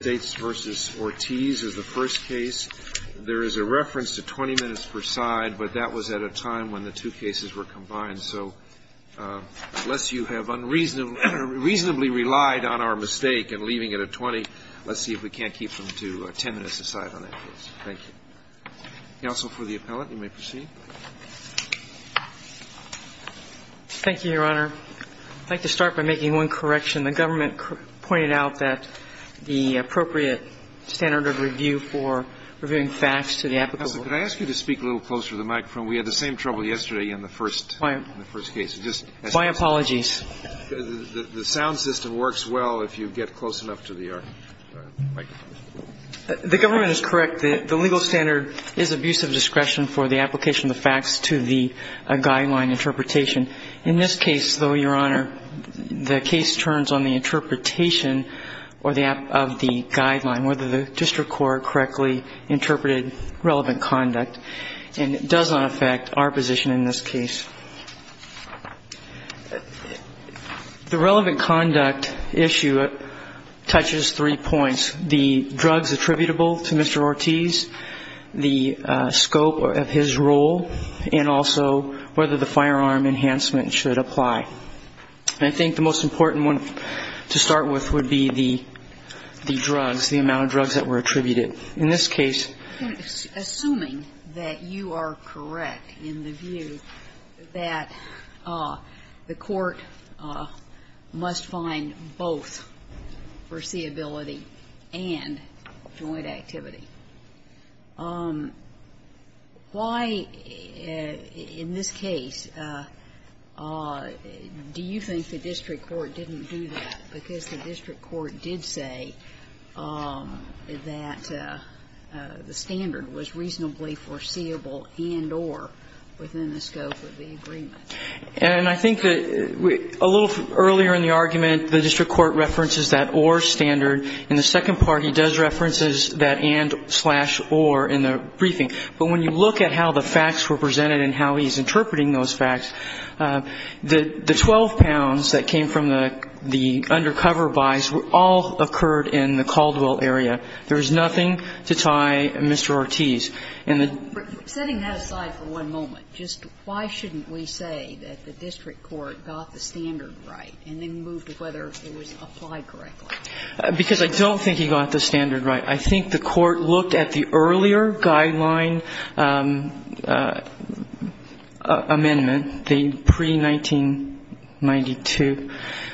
is the first case. There is a reference to 20 minutes per side, but that was at a time when the two cases were combined. So unless you have unreasonably relied on our mistake in leaving it at 20, let's see if we can't keep them to 10 minutes a side on that case. Thank you. Counsel for the appellant, you may proceed. Thank you, Your Honor. I'd like to start by making one correction. The government pointed out that the appropriate standard of review for reviewing facts to the applicant was Counsel, could I ask you to speak a little closer to the microphone? We had the same trouble yesterday in the first case. My apologies. The sound system works well if you get close enough to the microphone. The government is correct. The legal standard is abuse of discretion for the application of the facts to the guideline interpretation. In this case, though, Your Honor, the case turns on the interpretation of the guideline, whether the district court correctly interpreted relevant conduct. And it does not affect our position in this case. The relevant conduct issue touches three points. The drugs attributable to Mr. Ortiz, the scope of his role, and also whether the firearm enhancement should apply. I think the most important one to start with would be the drugs, the amount of drugs that were attributed. In this case Assuming that you are correct in the view that the court must find both foreseeability and joint activity, why in this case do you think the district court didn't do that, because the district court did say that the standard was reasonably foreseeable and or within the scope of the agreement? And I think that a little earlier in the argument, the district court references that or standard. In the second part, he does references that and-slash-or in the briefing. But when you look at how the facts were presented and how he's interpreting those facts, the 12 pounds that came from the undercover buys all occurred in the Caldwell area. There is nothing to tie Mr. Ortiz. And the ---- Setting that aside for one moment, just why shouldn't we say that the district court got the standard right and then moved whether it was applied correctly? Because I don't think he got the standard right. I think the court looked at the earlier guideline amendment, the pre-1992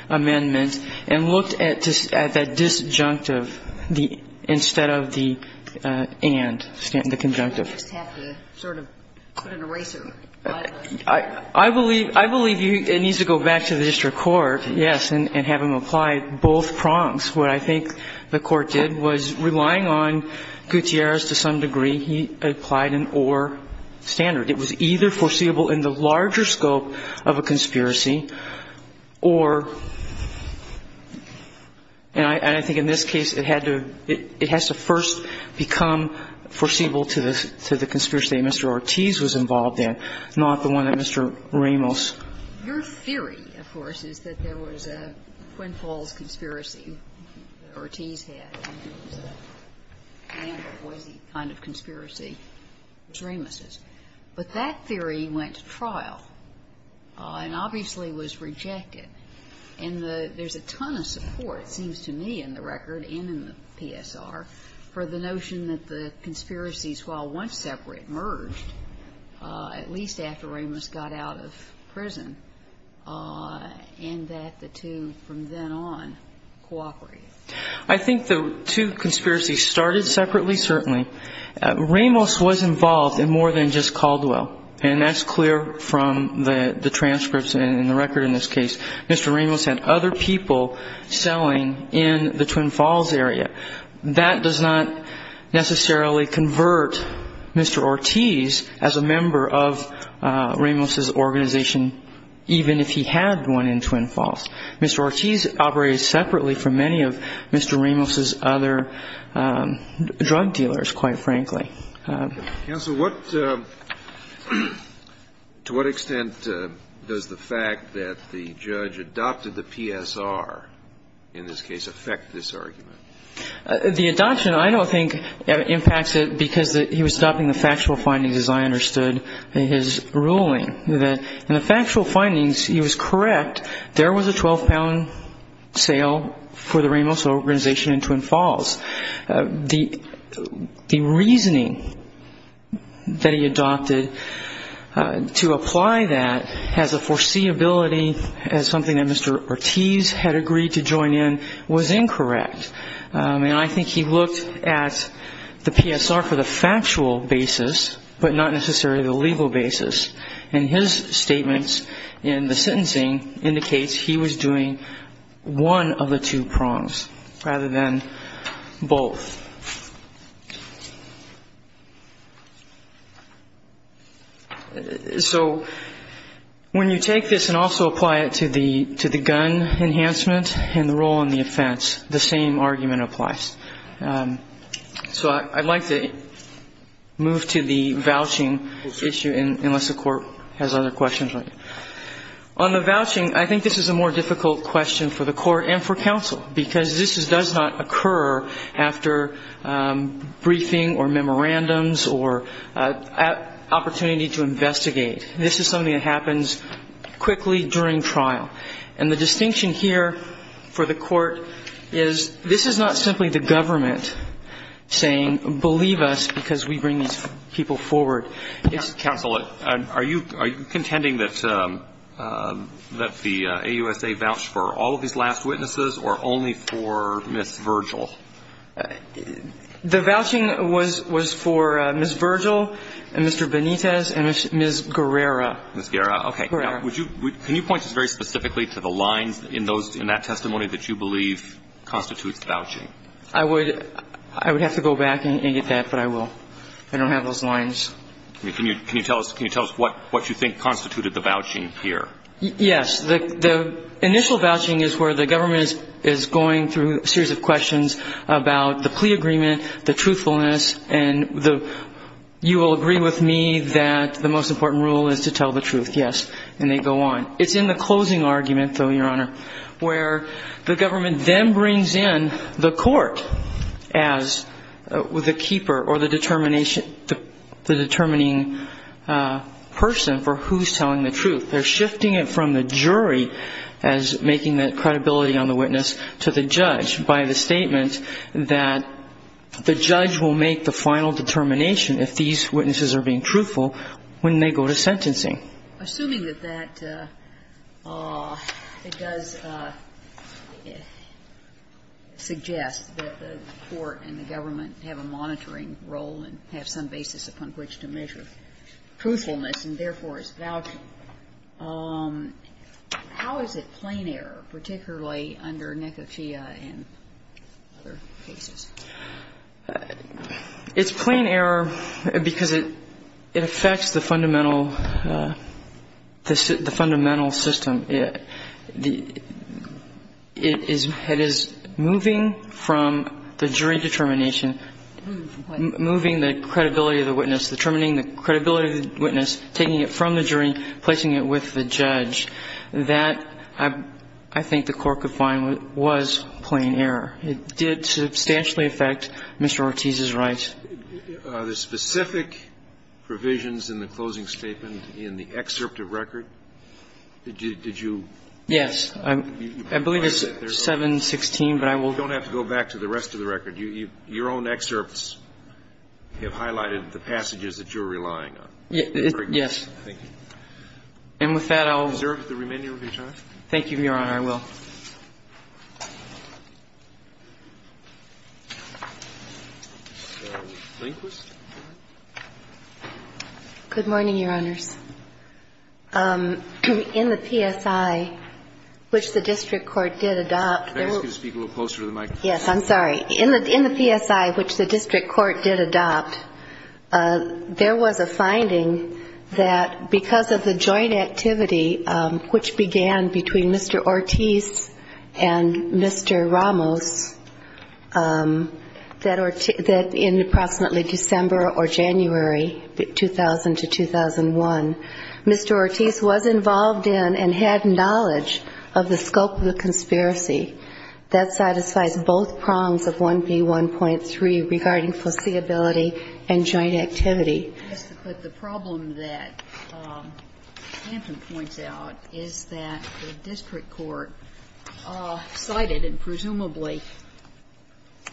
amendment, and looked at that disjunctive instead of the and, the conjunctive. You just have to sort of put an eraser by the ---- I believe it needs to go back to the district court, yes, and have him apply both prongs. What I think the court did was, relying on Gutierrez to some degree, he applied an or standard. It was either foreseeable in the larger scope of a conspiracy or ---- and I think in this case, it had to ---- it has to first become foreseeable to the conspiracy that Mr. Ortiz was involved in, not the one that Mr. Ramos. Your theory, of course, is that there was a Quinn Falls conspiracy that Ortiz had and it was a ---- kind of conspiracy, as Ramos's. But that theory went to trial and obviously was rejected. And the ---- there's a ton of support, it seems to me in the record and in the PSR, for the notion that the conspiracies, while one separate and one merged, at least after Ramos got out of prison, and that the two from then on cooperated. I think the two conspiracies started separately, certainly. Ramos was involved in more than just Caldwell, and that's clear from the transcripts and the record in this case. Mr. Ramos had other people selling in the Quinn Falls area. That does not necessarily convert Mr. Ortiz as a member of Ramos's organization, even if he had one in Quinn Falls. Mr. Ortiz operated separately from many of Mr. Ramos's other drug dealers, quite frankly. Counsel, what ---- to what extent does the fact that the judge adopted the PSR in this case affect this argument? The adoption, I don't think, impacts it because he was adopting the factual findings, as I understood his ruling. In the factual findings, he was correct, there was a 12-pound sale for the Ramos organization in Quinn Falls. The reasoning that he adopted to apply that has a foreseeability as something that I think he looked at the PSR for the factual basis, but not necessarily the legal basis. And his statements in the sentencing indicates he was doing one of the two prongs rather than both. So when you take this and also apply it to the gun enhancement and the role in the argument applies. So I'd like to move to the vouching issue, unless the Court has other questions. On the vouching, I think this is a more difficult question for the Court and for counsel, because this does not occur after briefing or memorandums or opportunity to investigate. This is something that happens quickly during trial. And the is not simply the government saying, believe us, because we bring these people forward. Counsel, are you contending that the AUSA vouched for all of these last witnesses or only for Ms. Virgil? The vouching was for Ms. Virgil and Mr. Benitez and Ms. Guerrera. Ms. Guerrera. Okay. Guerrera. Can you point us very specifically to the lines in that testimony that you believe constitutes vouching? I would have to go back and get that, but I will. I don't have those lines. Can you tell us what you think constituted the vouching here? Yes. The initial vouching is where the government is going through a series of questions about the plea agreement, the truthfulness, and you will agree with me that the most important thing is that the government is going to be able to decide what they want. It's in the closing argument, though, Your Honor, where the government then brings in the court as the keeper or the determination, the determining person for who's telling the truth. They're shifting it from the jury as making the credibility on the witness to the judge by the statement that the judge will make the final determination if these witnesses are being truthful when they go to sentencing. Assuming that that does suggest that the court and the government have a monitoring role and have some basis upon which to measure truthfulness and, therefore, is vouching, how is it plain error, particularly under Nekofia and other cases? It's plain error because it affects the fundamental system. It is moving from the jury determination, moving the credibility of the witness, determining the credibility of the witness, taking it from the jury, placing it with the judge. That I think the court could find was plain error. It did substantially affect Mr. Ortiz's rights. Are there specific provisions in the closing statement in the excerpt of record? Did you? Yes. I believe it's 716, but I will. You don't have to go back to the rest of the record. Your own excerpts have highlighted the passages that you're relying on. Yes. Thank you. And with that, I'll. Do you deserve the remainder of your time? Thank you, Your Honor. I will. Ms. Lindquist. Good morning, Your Honors. In the PSI, which the district court did adopt. Can I ask you to speak a little closer to the microphone? Yes, I'm sorry. In the PSI, which the district court did adopt, there was a finding that because of the joint activity, which began between Mr. Ortiz and Mr. Ramos, that in approximately December or January, 2000 to 2001, Mr. Ortiz was involved in and had knowledge of the scope of the conspiracy. That satisfies both prongs of 1B1.3 regarding foreseeability and joint activity. Ms. Lindquist, the problem that Hampton points out is that the district court cited and presumably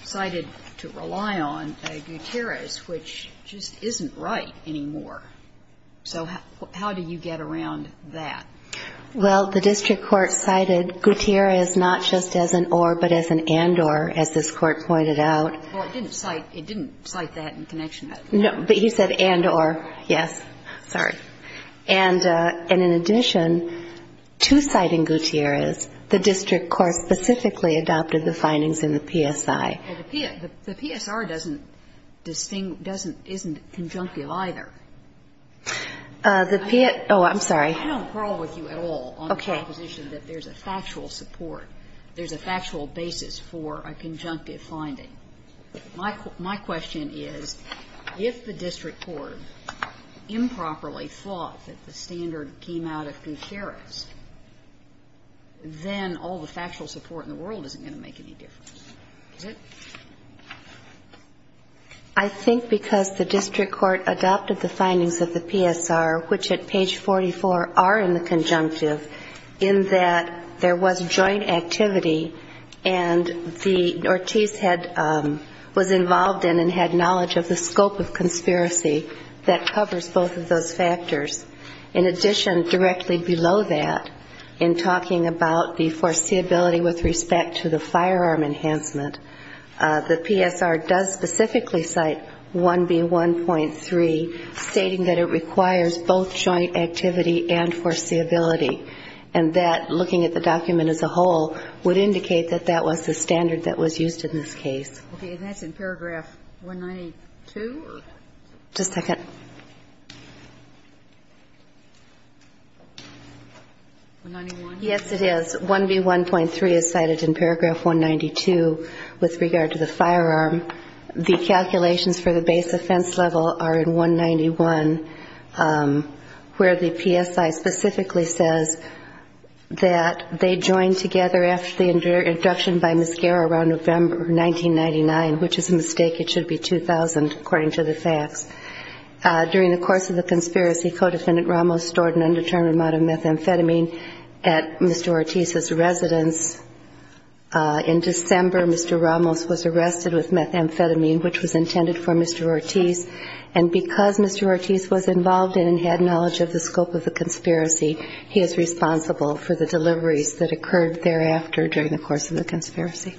cited to rely on Gutierrez, which just isn't right anymore. So how do you get around that? Well, the district court cited Gutierrez not just as an or, but as an and-or, as this Court pointed out. No, but he said and-or, yes. Sorry. And in addition to citing Gutierrez, the district court specifically adopted the findings in the PSI. Well, the PSR doesn't distinguish, doesn't, isn't conjunctive either. The PS, oh, I'm sorry. I don't quarrel with you at all on the proposition that there's a factual support, there's a factual basis for a conjunctive finding. My question is if the district court improperly thought that the standard came out of Gutierrez, then all the factual support in the world isn't going to make any difference, is it? I think because the district court adopted the findings of the PSR, which at page 44 are in the conjunctive, in that there was joint activity and the Ortiz had the was involved in and had knowledge of the scope of conspiracy that covers both of those factors. In addition, directly below that, in talking about the foreseeability with respect to the firearm enhancement, the PSR does specifically cite 1B1.3, stating that it requires both joint activity and foreseeability, and that, looking at the document as a whole, would indicate that that was the standard that was used in this case. Okay. And that's in paragraph 192? Just a second. 191? Yes, it is. 1B1.3 is cited in paragraph 192 with regard to the firearm. The calculations for the base offense level are in 191, where the PSI specifically says that they joined together after the introduction by Ms. Guerra around November 1999, which is a mistake. It should be 2000, according to the facts. During the course of the conspiracy, Codefendant Ramos stored an undetermined amount of methamphetamine at Mr. Ortiz's residence. In December, Mr. Ramos was arrested with methamphetamine, which was intended for Mr. Ortiz, and because Mr. Ortiz was involved in and had knowledge of the scope of the conspiracy, he is responsible for the deliveries that occurred thereafter during the course of the conspiracy.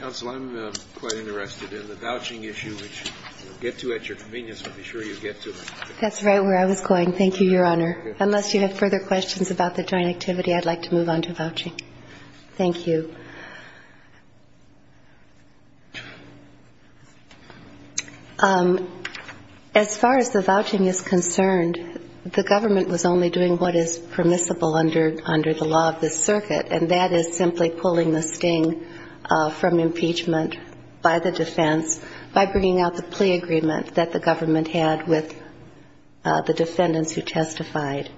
Counsel, I'm quite interested in the vouching issue, which you'll get to at your convenience. I'll be sure you get to it. That's right where I was going. Thank you, Your Honor. Unless you have further questions about the joint activity, I'd like to move on to vouching. Thank you. As far as the vouching is concerned, the government was only doing what is permissible under the law of the circuit, and that is simply pulling the sting from impeachment by the defense by bringing out the plea agreement that the government had with the defendants who testified.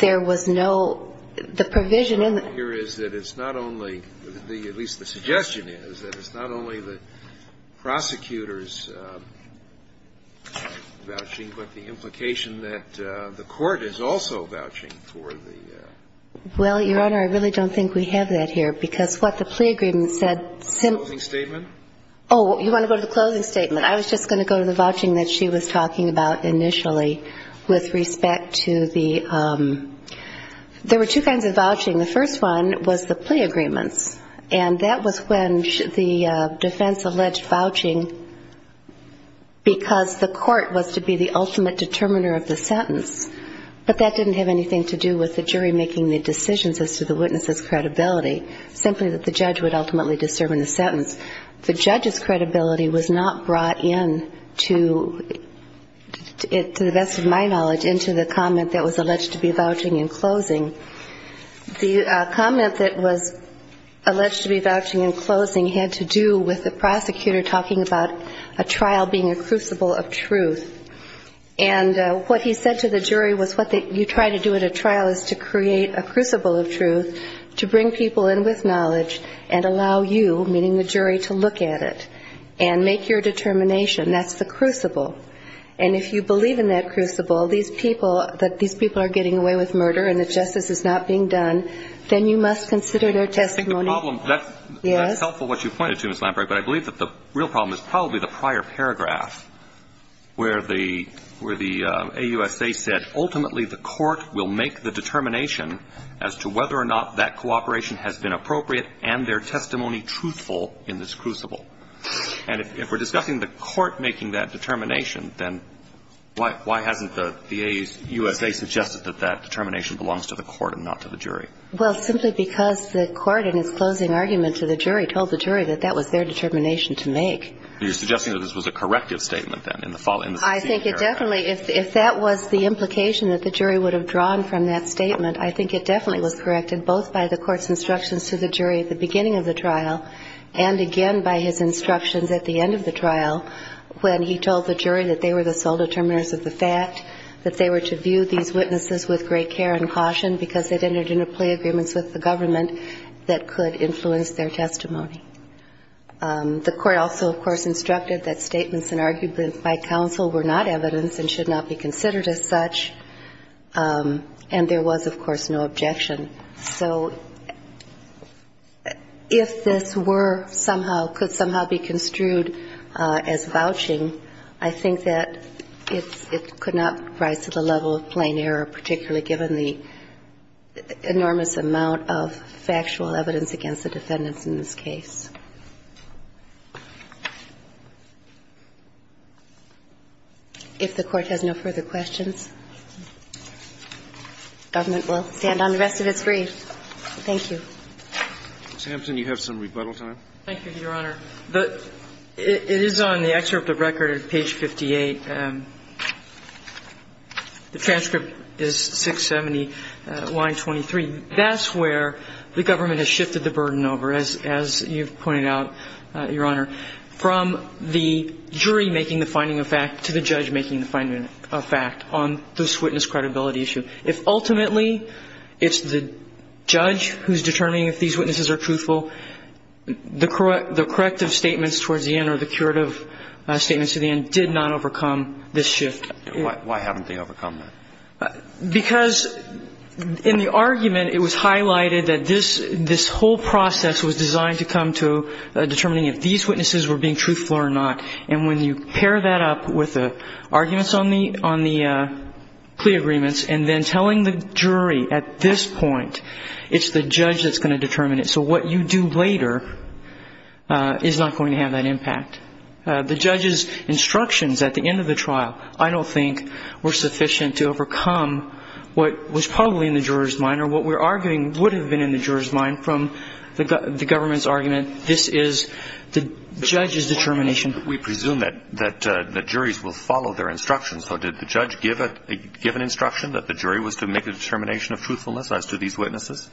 There was no – the provision in the – The point here is that it's not only – at least the suggestion is – that it's not only the prosecutor's vouching, but the implication that the court is also vouching for the – Well, Your Honor, I really don't think we have that here, because what the plea agreement said simply – The closing statement? Oh, you want to go to the closing statement. I was just going to go to the vouching that she was talking about initially with respect to the – There were two kinds of vouching. The first one was the plea agreements, and that was when the defense alleged vouching because the court was to be the ultimate determiner of the sentence, but that didn't have anything to do with the jury making the decisions as to the witness's credibility, simply that the judge would ultimately discern the sentence. The judge's credibility was not brought in to – The comment that was alleged to be vouching in closing had to do with the prosecutor talking about a trial being a crucible of truth, and what he said to the jury was what you try to do at a trial is to create a crucible of truth to bring people in with knowledge and allow you, meaning the jury, to look at it and make your determination. That's the crucible. And if you believe in that crucible, these people – that these people are getting away with murder and that justice is not being done, then you must consider their testimony. I think the problem – Yes? That's helpful what you pointed to, Ms. Lamperry, but I believe that the real problem is probably the prior paragraph where the – where the AUSA said, ultimately the court will make the determination as to whether or not that cooperation has been appropriate and their testimony truthful in this crucible. And if we're discussing the court making that determination, then why hasn't the AUSA suggested that that determination belongs to the court and not to the jury? Well, simply because the court in its closing argument to the jury told the jury that that was their determination to make. You're suggesting that this was a corrective statement, then, in the succeeding paragraph? I think it definitely – if that was the implication that the jury would have drawn from that statement, I think it definitely was corrected both by the court's instructions to the jury at the beginning of the trial and, again, by his instructions at the end of the trial, when he told the jury that they were the sole determiners of the fact, that they were to view these witnesses with great care and caution because they'd entered into plea agreements with the government that could influence their testimony. The court also, of course, instructed that statements and arguments by counsel were not evidence and should not be considered as such, and there was, of course, no objection. So if this were somehow – could somehow be construed as vouching, I think that it could not rise to the level of plain error, particularly given the enormous amount of factual evidence against the defendants in this case. If the court has no further questions, the government will stand on the rest of its brief. Thank you. Ms. Hampton, you have some rebuttal time. Thank you, Your Honor. It is on the excerpt of record at page 58. The transcript is 670, line 23. That's where the government has shifted the burden over, as you've pointed out, Your Honor, from the jury making the finding of fact to the judge making the finding of fact on this witness credibility issue. If ultimately it's the judge who's determining if these witnesses are truthful, the corrective statements towards the end or the curative statements to the end did not overcome this shift. Why haven't they overcome that? Because in the argument it was highlighted that this whole process was designed to come to determining if these witnesses were being truthful or not. And when you pair that up with the arguments on the plea agreements and then telling the jury at this point it's the judge that's going to determine it, so what you do later is not going to have that impact. The judge's instructions at the end of the trial, I don't think, were sufficient to overcome what was probably in the jurors' mind or what we're arguing would have been in the jurors' mind from the government's argument. And this is the judge's determination. We presume that the juries will follow their instructions. So did the judge give an instruction that the jury was to make a determination of truthfulness as to these witnesses?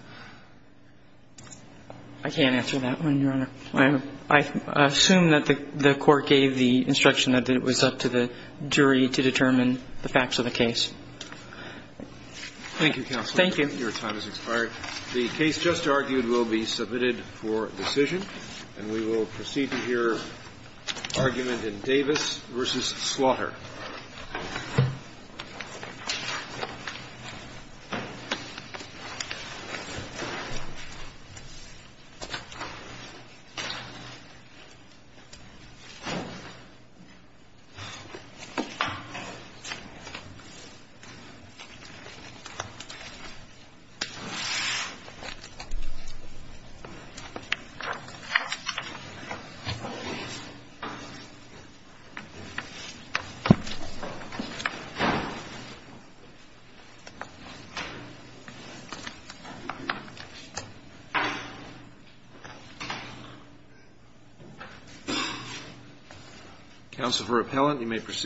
I can't answer that one, Your Honor. I assume that the court gave the instruction that it was up to the jury to determine the facts of the case. Thank you, Counselor. Thank you. Your time has expired. The case just argued will be submitted for decision, and we will proceed to hear argument in Davis v. Slaughter. Counsel for appellant, you may proceed.